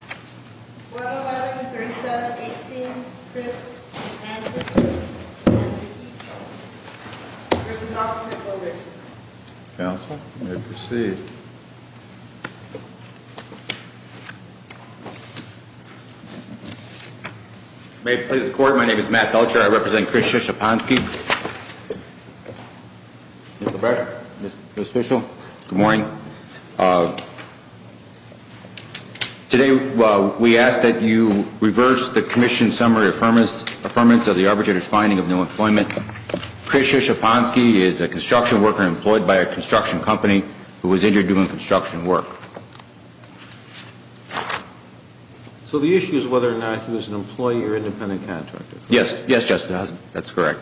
111, 37, 18, Chris, and Ancestors, and the people. There's an ultimate goal there tonight. Counsel, you may proceed. May it please the court, my name is Matt Belcher, I represent Chris Szczepanski. Mr. Breyer, Ms. Fishel, good morning. Today, we ask that you reverse the commission's summary affirmance of the arbitrator's finding of no employment. Chris Szczepanski is a construction worker employed by a construction company who was injured doing construction work. So the issue is whether or not he was an employee or independent contractor? Yes, yes, Justice, that's correct.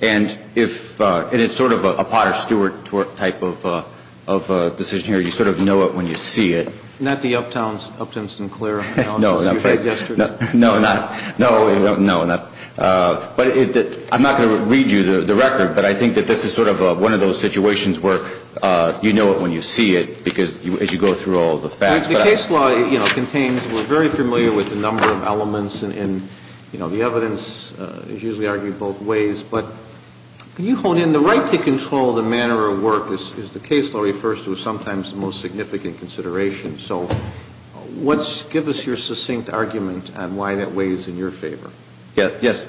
And if, and it's sort of a Potter Stewart type of decision here, you sort of know it when you see it. Not the Uptown Sinclair analysis you heard yesterday. No, no, no, no, no. But I'm not going to read you the record, but I think that this is sort of one of those situations where you know it when you see it, because as you go through all the facts. The case law, you know, contains, we're very familiar with the number of elements and, you know, the evidence is usually argued both ways. But can you hone in, the right to control the manner of work, as the case law refers to, is sometimes the most significant consideration. So what's, give us your succinct argument on why that weighs in your favor. Yes, yes.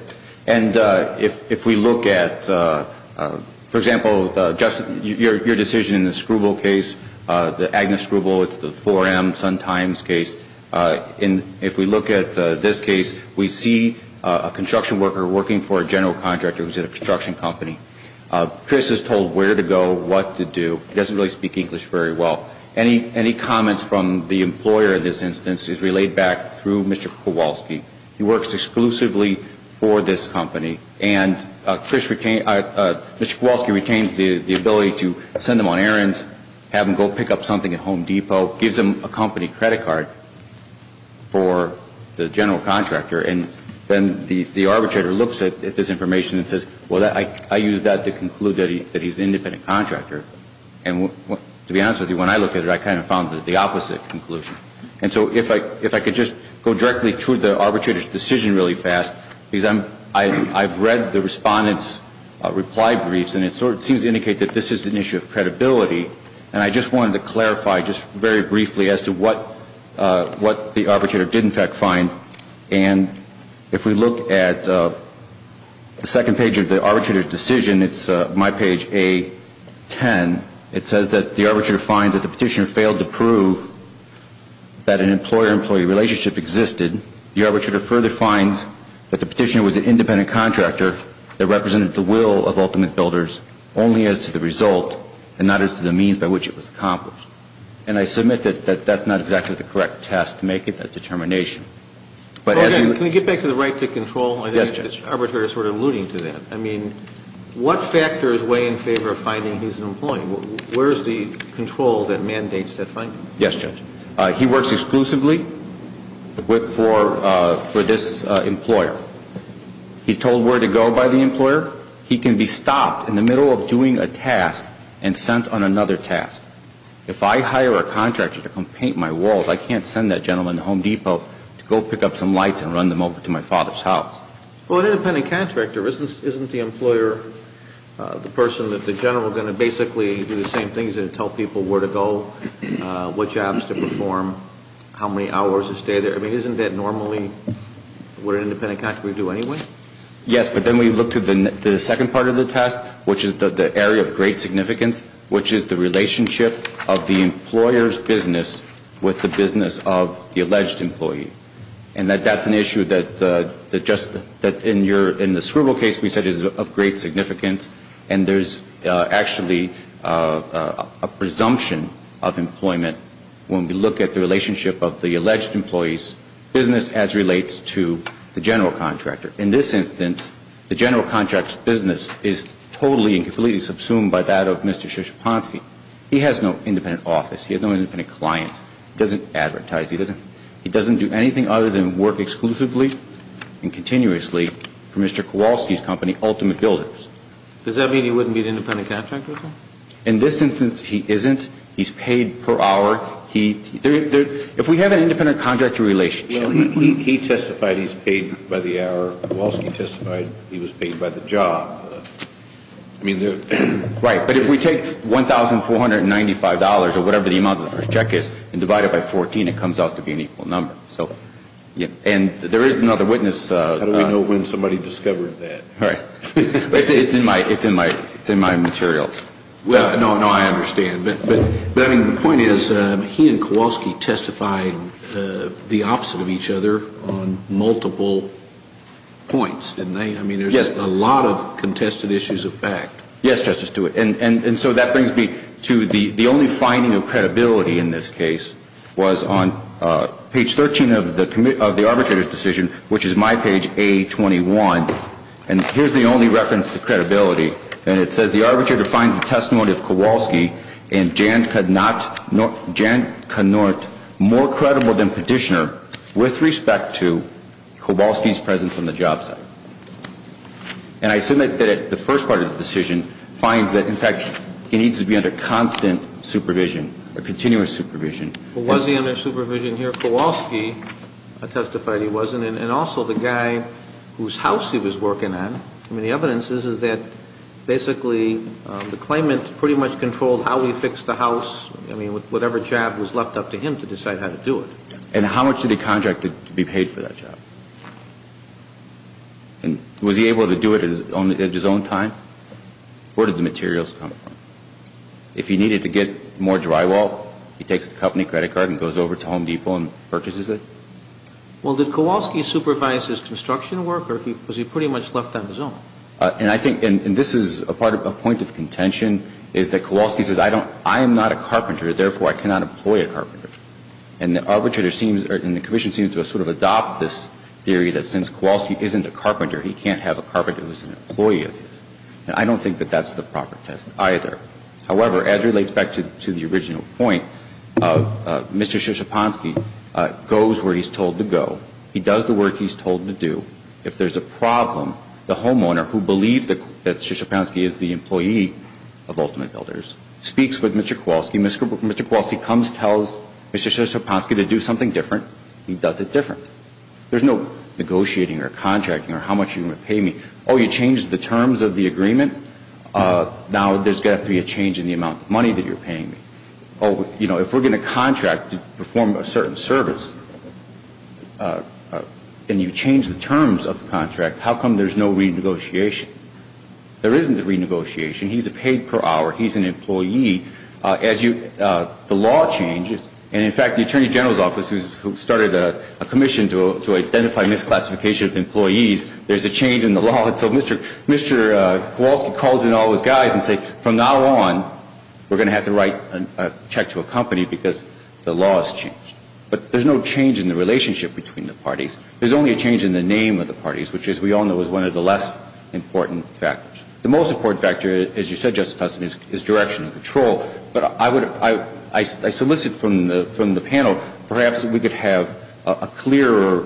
And if we look at, for example, Justice, your decision in the Scrubel case, the Agnes Scrubel, it's the 4M Sun Times case. If we look at this case, we see a construction worker working for a general contractor who's at a construction company. Chris is told where to go, what to do. He doesn't really speak English very well. Any comments from the employer in this instance is relayed back through Mr. Kowalski. He works exclusively for this company. And Mr. Kowalski retains the ability to send him on errands, have him go pick up something at Home Depot, gives him a company credit card for the general contractor. And then the arbitrator looks at this information and says, well, I used that to conclude that he's an independent contractor. And to be honest with you, when I look at it, I kind of found the opposite conclusion. And so if I could just go directly to the arbitrator's decision really fast, because I've read the respondent's reply briefs, and it sort of seems to indicate that this is an issue of credibility. And I just wanted to clarify just very briefly as to what the arbitrator did in fact find. And if we look at the second page of the arbitrator's decision, it's my page A-10, it says that the arbitrator finds that the petitioner failed to prove that an employer-employee relationship existed. The arbitrator further finds that the petitioner was an independent contractor that represented the will of ultimate builders only as to the result and not as to the means by which it was accomplished. And I submit that that's not exactly the correct test to make it a determination. But as you – Can we get back to the right to control? Yes, Judge. I think the arbitrator is sort of alluding to that. I mean, what factors weigh in favor of finding he's an employee? Where's the control that mandates that finding? Yes, Judge. He works exclusively for this employer. He's told where to go by the employer. He can be stopped in the middle of doing a task and sent on another task. If I hire a contractor to come paint my walls, I can't send that gentleman to Home Depot to go pick up some lights and run them over to my father's house. Well, an independent contractor isn't the employer the person that the general is going to basically do the same things and tell people where to go, what jobs to perform, how many hours to stay there? I mean, isn't that normally what an independent contractor would do anyway? Yes, but then we look to the second part of the test, which is the area of great significance, which is the relationship of the employer's business with the business of the alleged employee. And that's an issue that just in the Scribble case we said is of great significance, and there's actually a presumption of employment when we look at the relationship of the alleged employee's business as relates to the general contractor. In this instance, the general contractor's business is totally and completely subsumed by that of Mr. Szczepanski. He has no independent office. He has no independent clients. He doesn't advertise. He doesn't do anything other than work exclusively and continuously for Mr. Kowalski's company, Ultimate Builders. Does that mean he wouldn't be an independent contractor? In this instance, he isn't. He's paid per hour. If we have an independent contractor relationship. Well, he testified he's paid by the hour. Kowalski testified he was paid by the job. Right. But if we take $1,495 or whatever the amount of the first check is and divide it by 14, it comes out to be an equal number. And there is another witness. How do we know when somebody discovered that? Right. It's in my materials. No, I understand. But the point is he and Kowalski testified the opposite of each other on multiple points, didn't they? Yes. I mean, there's a lot of contested issues of fact. Yes, Justice Stewart. And so that brings me to the only finding of credibility in this case was on page 13 of the arbitrator's decision, which is my page A21. And here's the only reference to credibility. And it says the arbitrator finds the testimony of Kowalski and Jant canort more credible than petitioner with respect to Kowalski's presence on the job site. And I assume that the first part of the decision finds that, in fact, he needs to be under constant supervision or continuous supervision. Well, was he under supervision here? Kowalski testified he wasn't. And also the guy whose house he was working at, I mean, the evidence is that basically the claimant pretty much controlled how he fixed the house. I mean, whatever job was left up to him to decide how to do it. And how much did he contract to be paid for that job? And was he able to do it at his own time? Where did the materials come from? If he needed to get more drywall, he takes the company credit card and goes over to Home Depot and purchases it? Well, did Kowalski supervise his construction work, or was he pretty much left on his own? And I think this is a point of contention, is that Kowalski says I am not a carpenter, therefore I cannot employ a carpenter. And the arbitrator seems, and the commission seems to have sort of adopted this theory that since Kowalski isn't a carpenter, he can't have a carpenter who is an employee of his. And I don't think that that's the proper test either. However, as relates back to the original point, Mr. Szczepanski goes where he's told to go. He does the work he's told to do. If there's a problem, the homeowner, who believes that Szczepanski is the employee of Ultimate Builders, speaks with Mr. Kowalski. Mr. Kowalski comes, tells Mr. Szczepanski to do something different. He does it different. There's no negotiating or contracting or how much you're going to pay me. Oh, you changed the terms of the agreement? Now there's got to be a change in the amount of money that you're paying me. Oh, you know, if we're going to contract to perform a certain service, and you change the terms of the contract, how come there's no renegotiation? There isn't a renegotiation. He's paid per hour. He's an employee. The law changes. And, in fact, the Attorney General's Office, who started a commission to identify misclassification of employees, there's a change in the law. And so Mr. Kowalski calls in all those guys and says, from now on, we're going to have to write a check to a company because the law has changed. But there's no change in the relationship between the parties. There's only a change in the name of the parties, which, as we all know, is one of the less important factors. The most important factor, as you said, Justice Tustin, is direction and control. But I solicit from the panel, perhaps we could have a clearer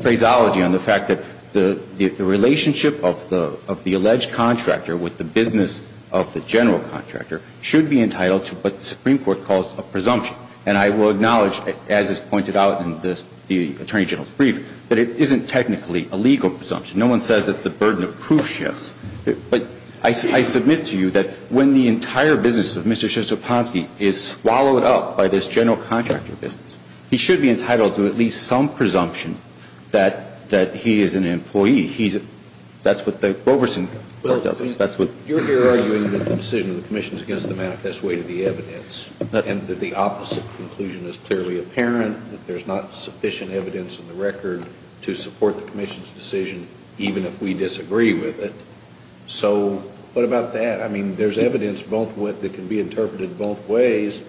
phraseology on the fact that the relationship of the alleged contractor with the business of the general contractor should be entitled to what the Supreme Court calls a presumption. And I will acknowledge, as is pointed out in the Attorney General's brief, that it isn't technically a legal presumption. No one says that the burden of proof shifts. But I submit to you that when the entire business of Mr. Szyczopanski is swallowed up by this general contractor business, he should be entitled to at least some presumption that he is an employee. He's a – that's what the Roverson does. That's what – Well, you're here arguing that the decision of the commission is against the manifest weight of the evidence and that the opposite conclusion is clearly apparent, that there's not sufficient evidence in the record to support the commission's decision, even if we disagree with it. So what about that? I mean, there's evidence both – that can be interpreted both ways.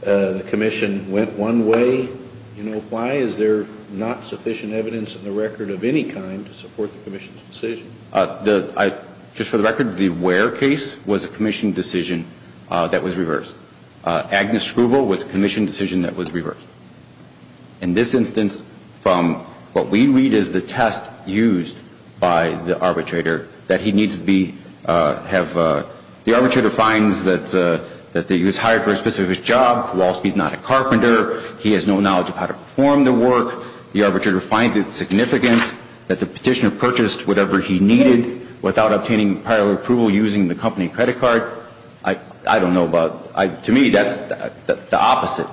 The commission went one way. You know, why is there not sufficient evidence in the record of any kind to support the commission's decision? The – I – just for the record, the Ware case was a commission decision that was reversed. Agnes Scrubel was a commission decision that was reversed. In this instance, from what we read is the test used by the arbitrator that he needs to be – have – the arbitrator finds that he was hired for a specific job. Walsh, he's not a carpenter. He has no knowledge of how to perform the work. The arbitrator finds it significant that the petitioner purchased whatever he needed without obtaining prior approval using the company credit card. I don't know about – to me, that's – the opposite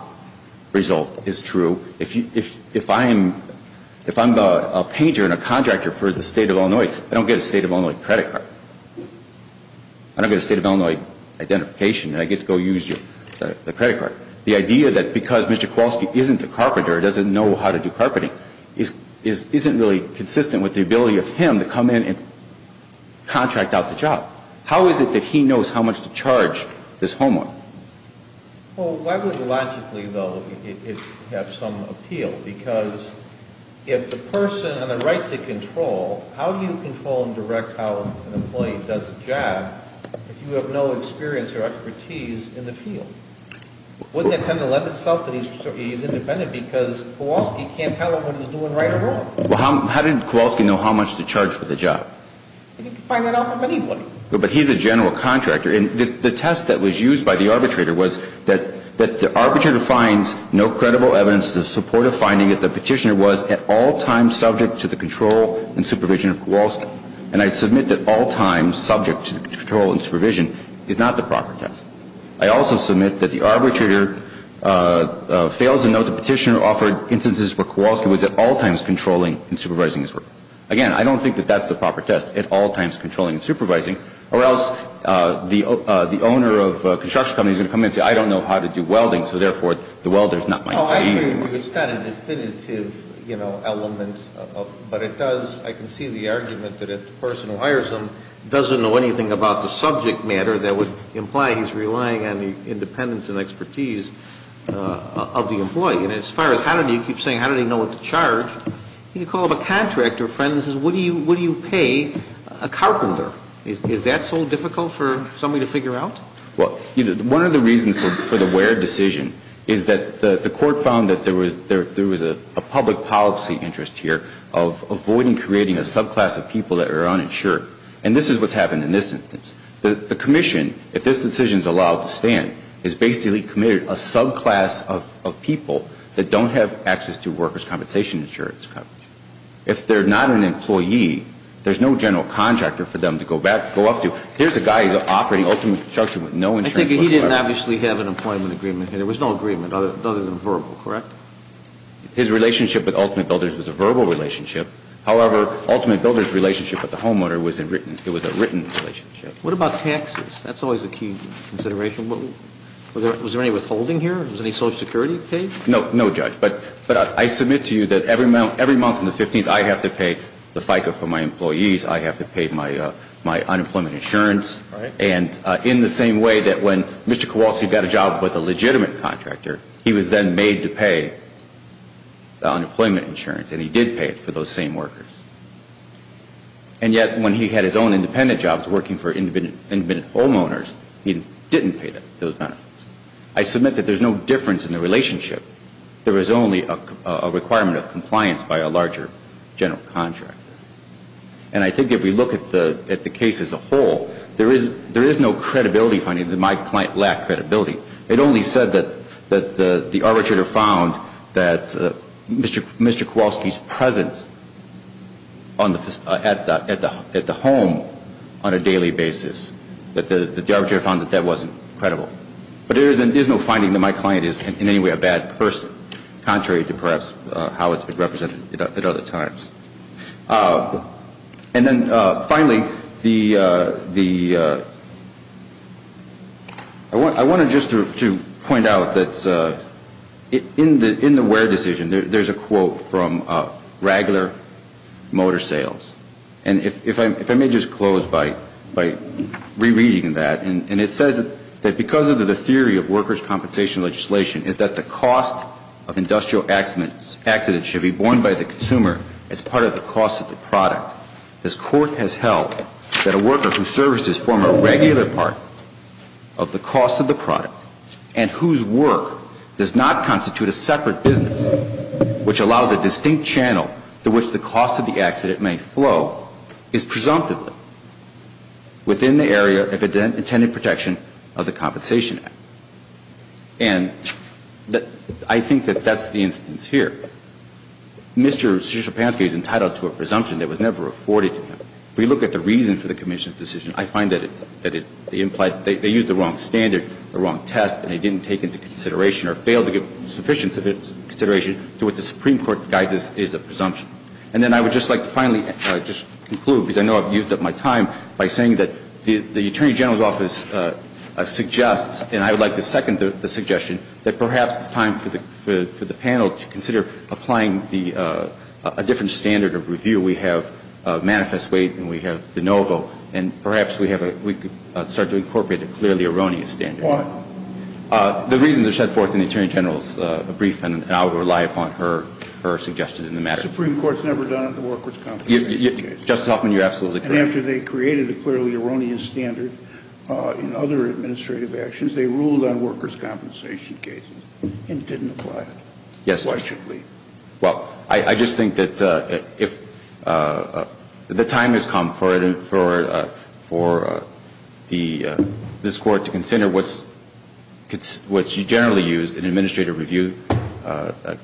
result is true. If you – if I am – if I'm a painter and a contractor for the State of Illinois, I don't get a State of Illinois credit card. I don't get a State of Illinois identification, and I get to go use your – the credit card. The idea that because Mr. Kowalski isn't a carpenter, doesn't know how to do carpeting, is – isn't really consistent with the ability of him to come in and contract out the job. How is it that he knows how much to charge this homeowner? Well, why would logically, though, it have some appeal? Because if the person has a right to control, how do you control and direct how an employee does a job if you have no experience or expertise in the field? Wouldn't that tend to lend itself that he's independent because Kowalski can't tell him what he's doing right or wrong? Well, how did Kowalski know how much to charge for the job? I think you can find that off of anybody. But he's a general contractor. And the test that was used by the arbitrator was that the arbitrator finds no credible evidence to support a finding that the petitioner was at all times subject to the control and supervision of Kowalski. And I submit that all times subject to the control and supervision is not the proper test. I also submit that the arbitrator fails to note the petitioner offered instances where Kowalski was at all times controlling and supervising his work. Again, I don't think that that's the proper test, at all times controlling and supervising, or else the owner of a construction company is going to come in and say, I don't know how to do welding, so therefore the welder is not my employee. Oh, I agree with you. It's not a definitive, you know, element. But it does, I can see the argument that a person who hires him doesn't know anything about the subject matter that would imply he's relying on the independence and expertise of the employee. And as far as how did he, you keep saying how did he know what to charge, you can call him a contractor, a friend, and say what do you pay a carpenter? Is that so difficult for somebody to figure out? Well, one of the reasons for the Ware decision is that the court found that there was a public policy interest here of avoiding creating a subclass of people that are uninsured. And this is what's happened in this instance. The commission, if this decision is allowed to stand, is basically committed a subclass of people that don't have access to workers' compensation insurance coverage. If they're not an employee, there's no general contractor for them to go up to. Here's a guy who's operating ultimate construction with no insurance whatsoever. I think he didn't obviously have an employment agreement here. There was no agreement other than verbal, correct? His relationship with Ultimate Builders was a verbal relationship. However, Ultimate Builders' relationship with the homeowner was a written relationship. What about taxes? That's always a key consideration. Was there any withholding here? Was any Social Security paid? No, no, Judge. But I submit to you that every month on the 15th, I have to pay the FICA for my employees. I have to pay my unemployment insurance. And in the same way that when Mr. Kowalski got a job with a legitimate contractor, he was then made to pay the unemployment insurance, and he did pay it for those same workers. And yet, when he had his own independent jobs working for independent homeowners, he didn't pay those benefits. I submit that there's no difference in the relationship. There is only a requirement of compliance by a larger general contractor. And I think if we look at the case as a whole, there is no credibility finding that my client lacked credibility. It only said that the arbitrator found that Mr. Kowalski's presence at the home on a daily basis, that the arbitrator found that that wasn't credible. But there is no finding that my client is in any way a bad person, contrary to perhaps how it's been represented at other times. And then finally, I wanted just to point out that in the Ware decision, there's a quote from Ragler Motor Sales. And if I may just close by rereading that. And it says that because of the theory of workers' compensation legislation, is that the cost of industrial accidents should be borne by the consumer as part of the cost of the product. This court has held that a worker whose services form a regular part of the cost of the product and whose work does not constitute a separate business, which allows a distinct channel to which the cost of the accident may flow, is presumptively within the area of intended protection of the Compensation Act. And I think that that's the instance here. Mr. Sierpanski is entitled to a presumption that was never afforded to him. If we look at the reason for the commission's decision, I find that it's the implied that they used the wrong standard, the wrong test, and they didn't take into consideration or fail to give sufficient consideration to what the Supreme Court guides as a presumption. And then I would just like to finally just conclude, because I know I've used up my time, by saying that the Attorney General's office suggests, and I would like to second the suggestion, that perhaps it's time for the panel to consider applying a different standard of review. We have manifest weight and we have de novo, and perhaps we could start to incorporate a clearly erroneous standard. Why? The reasons are set forth in the Attorney General's brief, and I would rely upon her suggestion in the matter. The Supreme Court's never done it, the workers' compensation case. Justice Hoffman, you're absolutely correct. And after they created a clearly erroneous standard in other administrative actions, they ruled on workers' compensation cases and didn't apply it. Yes. Why should we? Well, I just think that if the time has come for it, for this Court to consider what you generally use in administrative review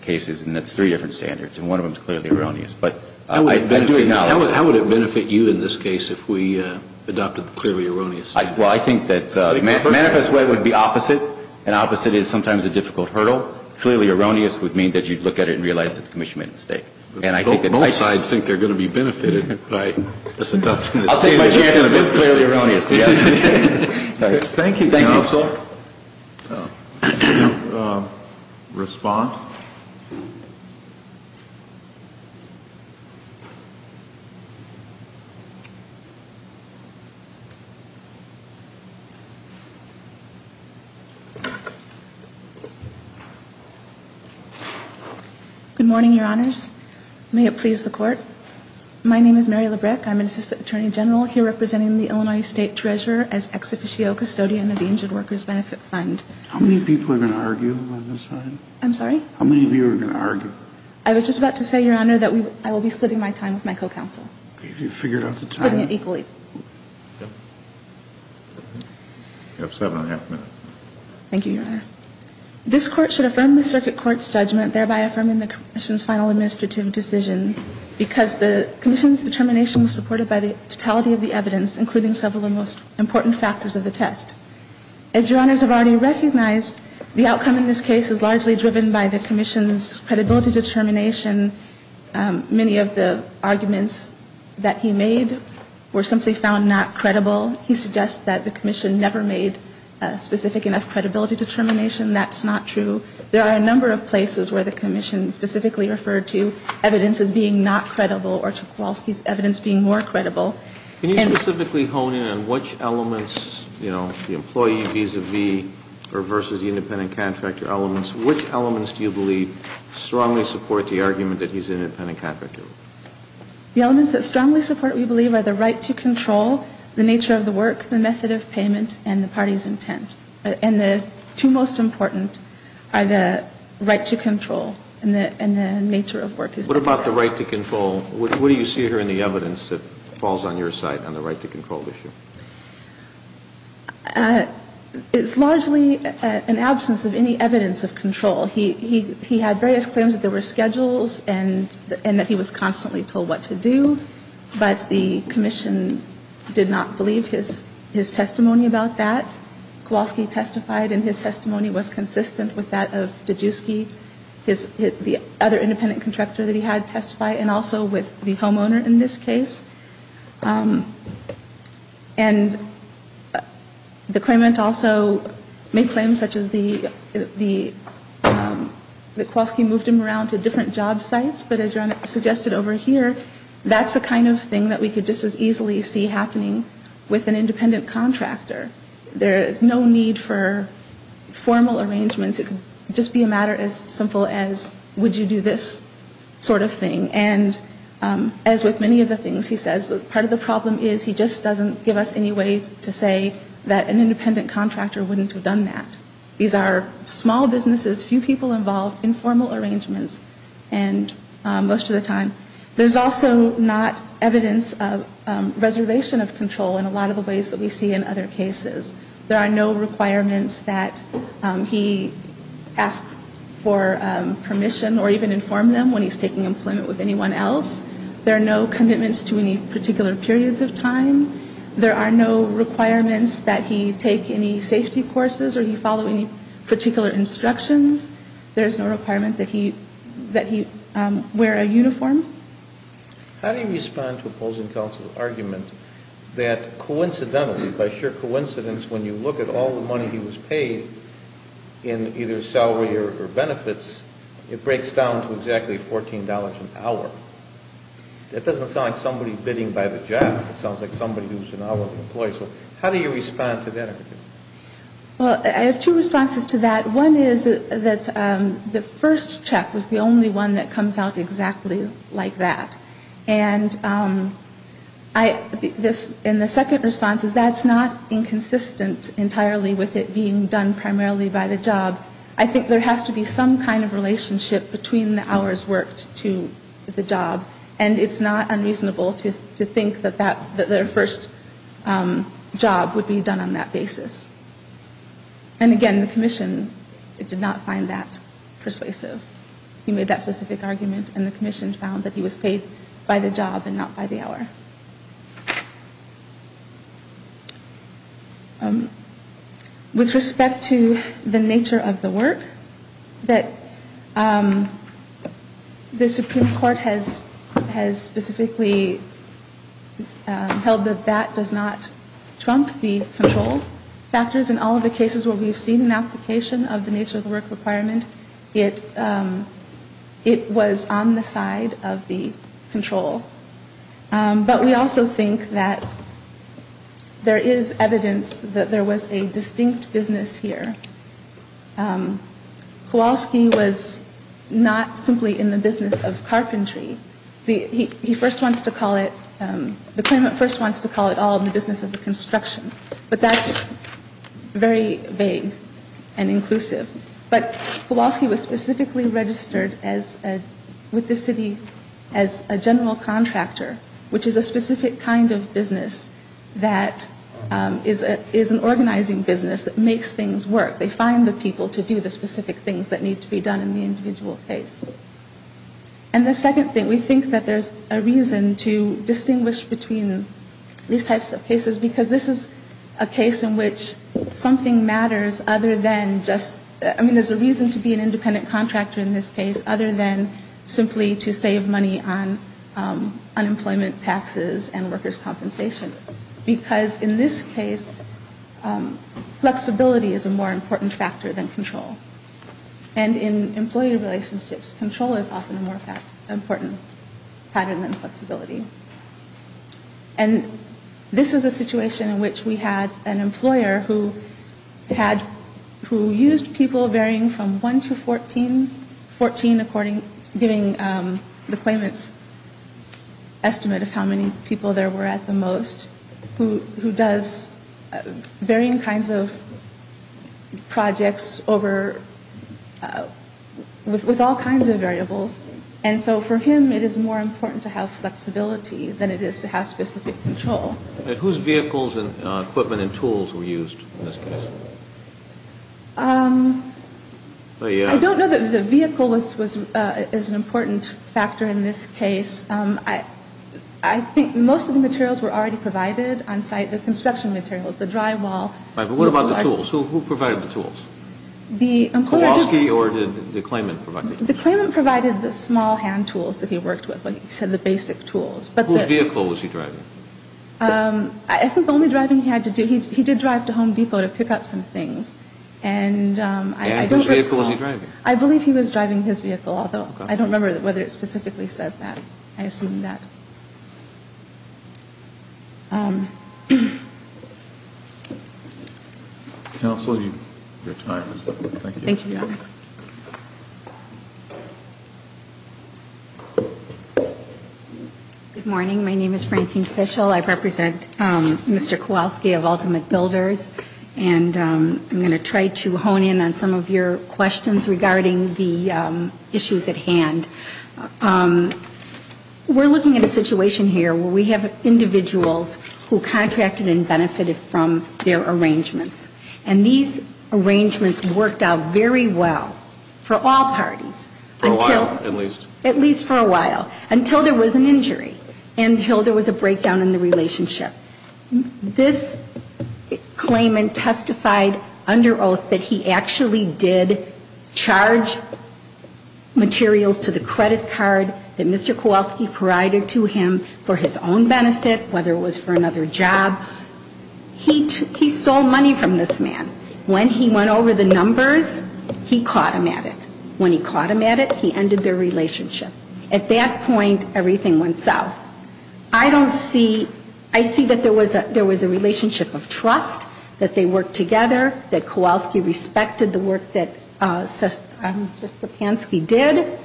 cases, and it's three different standards, and one of them is clearly erroneous. But I do acknowledge that. How would it benefit you in this case if we adopted the clearly erroneous standard? Well, I think that the manifest weight would be opposite, and opposite is sometimes a difficult hurdle. Clearly erroneous would mean that you'd look at it and realize that the Commission made a mistake. Both sides think they're going to be benefited by this adoption. I'll take my chances with clearly erroneous, yes. Thank you, counsel. Respond? Good morning, Your Honors. May it please the Court. My name is Mary Labreck. I'm an Assistant Attorney General here representing the Illinois State Treasurer as Ex Officio Custodian of the Injured Workers Benefit Fund. How many people are going to argue on this side? I'm sorry? How many of you are going to argue? I was just about to say, Your Honor, that I will be splitting my time with my co-counsel. Have you figured out the time? Putting it equally. You have seven and a half minutes. Thank you, Your Honor. This Court should affirm the circuit court's judgment, thereby affirming the Commission's final administrative decision, because the Commission's determination was supported by the totality of the evidence, including several of the most important factors of the test. As Your Honors have already recognized, the outcome in this case is largely driven by the Commission's credibility determination. Many of the arguments that he made were simply found not credible. He suggests that the Commission never made a specific enough credibility determination. That's not true. There are a number of places where the Commission specifically referred to evidence as being not credible or Tchaikovsky's evidence being more credible. Can you specifically hone in on which elements, you know, the employee vis-à-vis or versus the independent contractor elements, which elements do you believe strongly support the argument that he's an independent contractor? The elements that strongly support, we believe, are the right to control, the nature of the work, the method of payment, and the party's intent. And the two most important are the right to control and the nature of work. What about the right to control? What do you see here in the evidence that falls on your side on the right to control issue? It's largely an absence of any evidence of control. He had various claims that there were schedules and that he was constantly told what to do. But the Commission did not believe his testimony about that. Kowalski testified, and his testimony was consistent with that of Dijewski, the other independent contractor that he had testify, and also with the homeowner in this case. And the claimant also made claims such as that Kowalski moved him around to different job sites. But as you suggested over here, that's the kind of thing that we could just as easily see happening with an independent contractor. There is no need for formal arrangements. It could just be a matter as simple as would you do this sort of thing. And as with many of the things he says, part of the problem is he just doesn't give us any ways to say that an independent contractor wouldn't have done that. These are small businesses, few people involved, informal arrangements most of the time. There's also not evidence of reservation of control in a lot of the ways that we see in other cases. There are no requirements that he ask for permission or even inform them when he's taking employment with anyone else. There are no commitments to any particular periods of time. There are no requirements that he take any safety courses or he follow any particular instructions. There's no requirement that he wear a uniform. How do you respond to opposing counsel's argument that coincidentally, by sheer coincidence, when you look at all the money he was paid in either salary or benefits, it breaks down to exactly $14 an hour? That doesn't sound like somebody bidding by the job. It sounds like somebody who's an hourly employee. So how do you respond to that? Well, I have two responses to that. One is that the first check was the only one that comes out exactly like that. And the second response is that's not inconsistent entirely with it being done primarily by the job. I think there has to be some kind of relationship between the hours worked to the job. And it's not unreasonable to think that their first job would be done on that basis. And again, the commission did not find that persuasive. He made that specific argument and the commission found that he was paid by the job and not by the hour. With respect to the nature of the work, the Supreme Court has specifically held that that does not trump the control factors in all of the cases where we've seen an application of the nature of the work requirement. It was on the side of the control. But we also think that there is evidence that there was a distinct business here. Kowalski was not simply in the business of carpentry. He first wants to call it, the claimant first wants to call it all in the business of the construction. But that's very vague and inclusive. But Kowalski was specifically registered with the city as a general contractor, which is a specific kind of business that is an organizing business that makes things work. They find the people to do the specific things that need to be done in the individual case. And the second thing, we think that there's a reason to distinguish between these types of cases, because this is a case in which something matters other than just, I mean, there's a reason to be an independent contractor in this case, other than simply to save money on unemployment taxes and workers' compensation. Because in this case, flexibility is a more important factor than control. And in employee relationships, control is often a more important pattern than flexibility. And this is a situation in which we had an employer who had, who used people varying from 1 to 14, 14 according, giving the claimant's estimate of how many people there were at the most, who does varying kinds of projects over, with all kinds of variables. And so for him, it is more important to have flexibility than it is to have specific control. And whose vehicles and equipment and tools were used in this case? I don't know that the vehicle was an important factor in this case. I think most of the materials were already provided on site. The construction materials, the drywall. Right, but what about the tools? Who provided the tools? The employer did. Kowalski or did the claimant provide the tools? The claimant provided the small hand tools that he worked with. He said the basic tools. Whose vehicle was he driving? I think the only driving he had to do, he did drive to Home Depot to pick up some things. And whose vehicle was he driving? I believe he was driving his vehicle, although I don't remember whether it specifically says that. I assume that. Counsel, your time is up. Thank you. Thank you, Your Honor. Good morning. My name is Francine Fischel. I represent Mr. Kowalski of Ultimate Builders. And I'm going to try to hone in on some of your questions regarding the issues at hand. We're looking at a situation here where we have individuals who contracted and benefited from their arrangements. And these arrangements worked out very well for all parties. For a while, at least. At least for a while. Until there was an injury. Until there was a breakdown in the relationship. This claimant testified under oath that he actually did charge materials to the credit card that Mr. Kowalski provided to him for his own benefit, whether it was for another job. He stole money from this man. When he went over the numbers, he caught him at it. When he caught him at it, he ended their relationship. At that point, everything went south. I don't see, I see that there was a relationship of trust, that they worked together, that Kowalski respected the work that Mr. Spokanski did.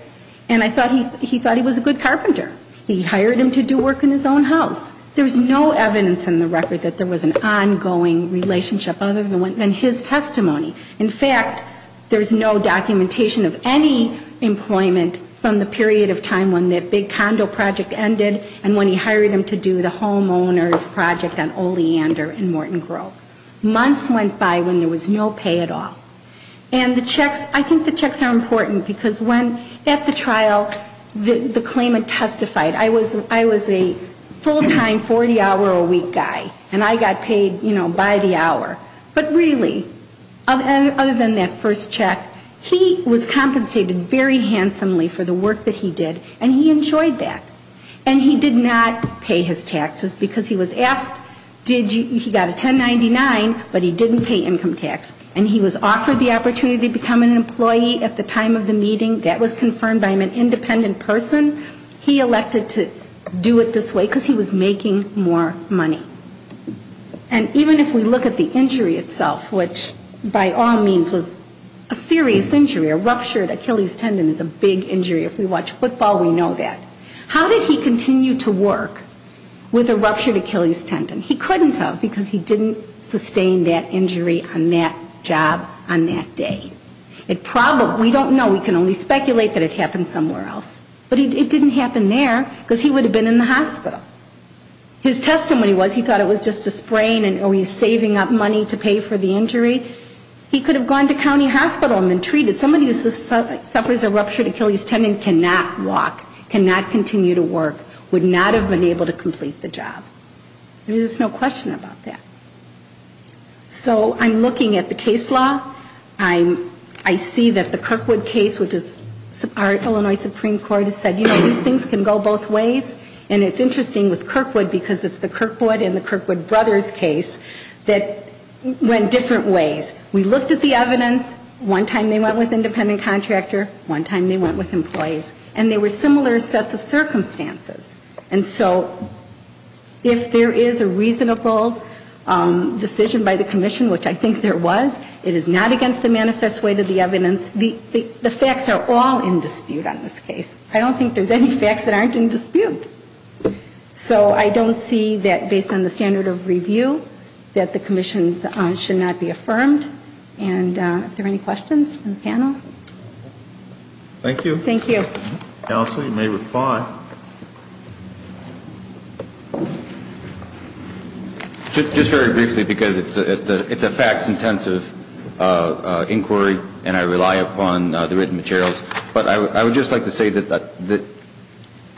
And I thought he thought he was a good carpenter. He hired him to do work in his own house. There's no evidence in the record that there was an ongoing relationship other than his testimony. In fact, there's no documentation of any employment from the period of time when that big condo project ended and when he hired him to do the homeowners project on Oleander and Morton Grove. Months went by when there was no pay at all. And the checks, I think the checks are important because when, at the trial, the claimant testified. I was a full-time, 40-hour-a-week guy. And I got paid, you know, by the hour. But really, other than that first check, he was compensated very handsomely for the work that he did. And he enjoyed that. And he did not pay his taxes because he was asked, he got a 1099, but he didn't pay income tax. And he was offered the opportunity to become an employee at the time of the meeting. That was confirmed by an independent person. He elected to do it this way because he was making more money. And even if we look at the injury itself, which by all means was a serious injury, a ruptured Achilles tendon is a big injury. If we watch football, we know that. How did he continue to work with a ruptured Achilles tendon? He couldn't have because he didn't sustain that injury on that job on that day. We don't know. We can only speculate that it happened somewhere else. But it didn't happen there because he would have been in the hospital. His testimony was he thought it was just a sprain and, oh, he's saving up money to pay for the injury. He could have gone to county hospital and been treated. Somebody who suffers a ruptured Achilles tendon cannot walk, cannot continue to work, would not have been able to complete the job. There's just no question about that. So I'm looking at the case law. I see that the Kirkwood case, which is our Illinois Supreme Court has said, you know, these things can go both ways. And it's interesting with Kirkwood because it's the Kirkwood and the Kirkwood brothers case that went different ways. We looked at the evidence. One time they went with independent contractor. One time they went with employees. And they were similar sets of circumstances. And so if there is a reasonable decision by the commission, which I think there was, it is not against the manifest way to the evidence. The facts are all in dispute on this case. I don't think there's any facts that aren't in dispute. So I don't see that based on the standard of review that the commission should not be affirmed. And if there are any questions from the panel. Thank you. Thank you. Counsel, you may reply. Just very briefly because it's a facts intensive inquiry and I rely upon the written materials. But I would just like to say that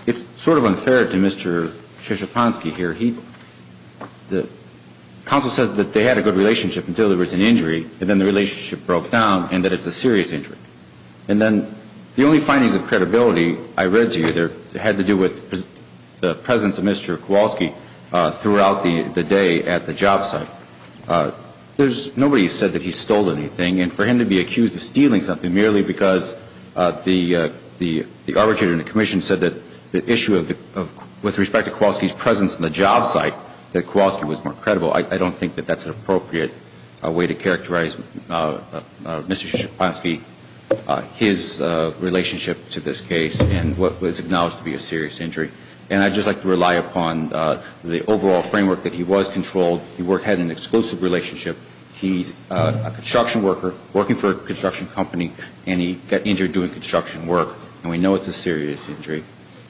it's sort of unfair to Mr. Krzyzewanski here. The counsel says that they had a good relationship until there was an injury and then the relationship broke down and that it's a serious injury. And then the only findings of credibility I read to you had to do with the presence of Mr. Kowalski throughout the day at the job site. There's nobody who said that he stole anything. And for him to be accused of stealing something merely because the arbitrator and the commission said that the issue with respect to Kowalski's presence on the job site, that Kowalski was more credible. I don't think that that's an appropriate way to characterize Mr. Krzyzewanski, his relationship to this case and what was acknowledged to be a serious injury. And I'd just like to rely upon the overall framework that he was controlled. He had an exclusive relationship. He's a construction worker working for a construction company and he got injured doing construction work. And we know it's a serious injury.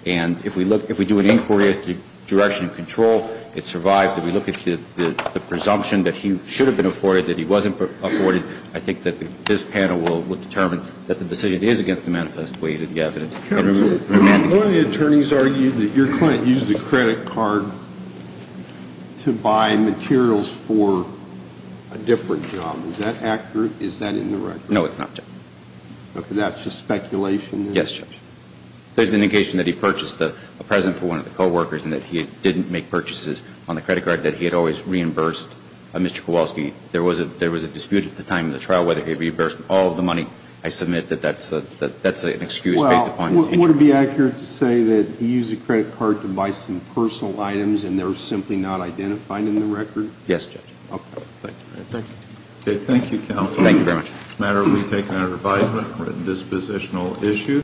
And if we do an inquiry as to direction and control, it survives. If we look at the presumption that he should have been afforded, that he wasn't afforded, I think that this panel will determine that the decision is against the manifest way to the evidence. The attorneys argue that your client used the credit card to buy materials for a different job. Is that accurate? Is that in the record? No, it's not. That's just speculation? Yes, Judge. There's indication that he purchased a present for one of the co-workers and that he didn't make purchases on the credit card, that he had always reimbursed Mr. Kowalski. There was a dispute at the time of the trial whether he had reimbursed all of the money. I submit that that's an excuse based upon his injury. Well, would it be accurate to say that he used a credit card to buy some personal items and they're simply not identified in the record? Yes, Judge. Okay, thank you. Okay, thank you, counsel. Thank you very much. It's a matter of retaking our advisement on this positional issue.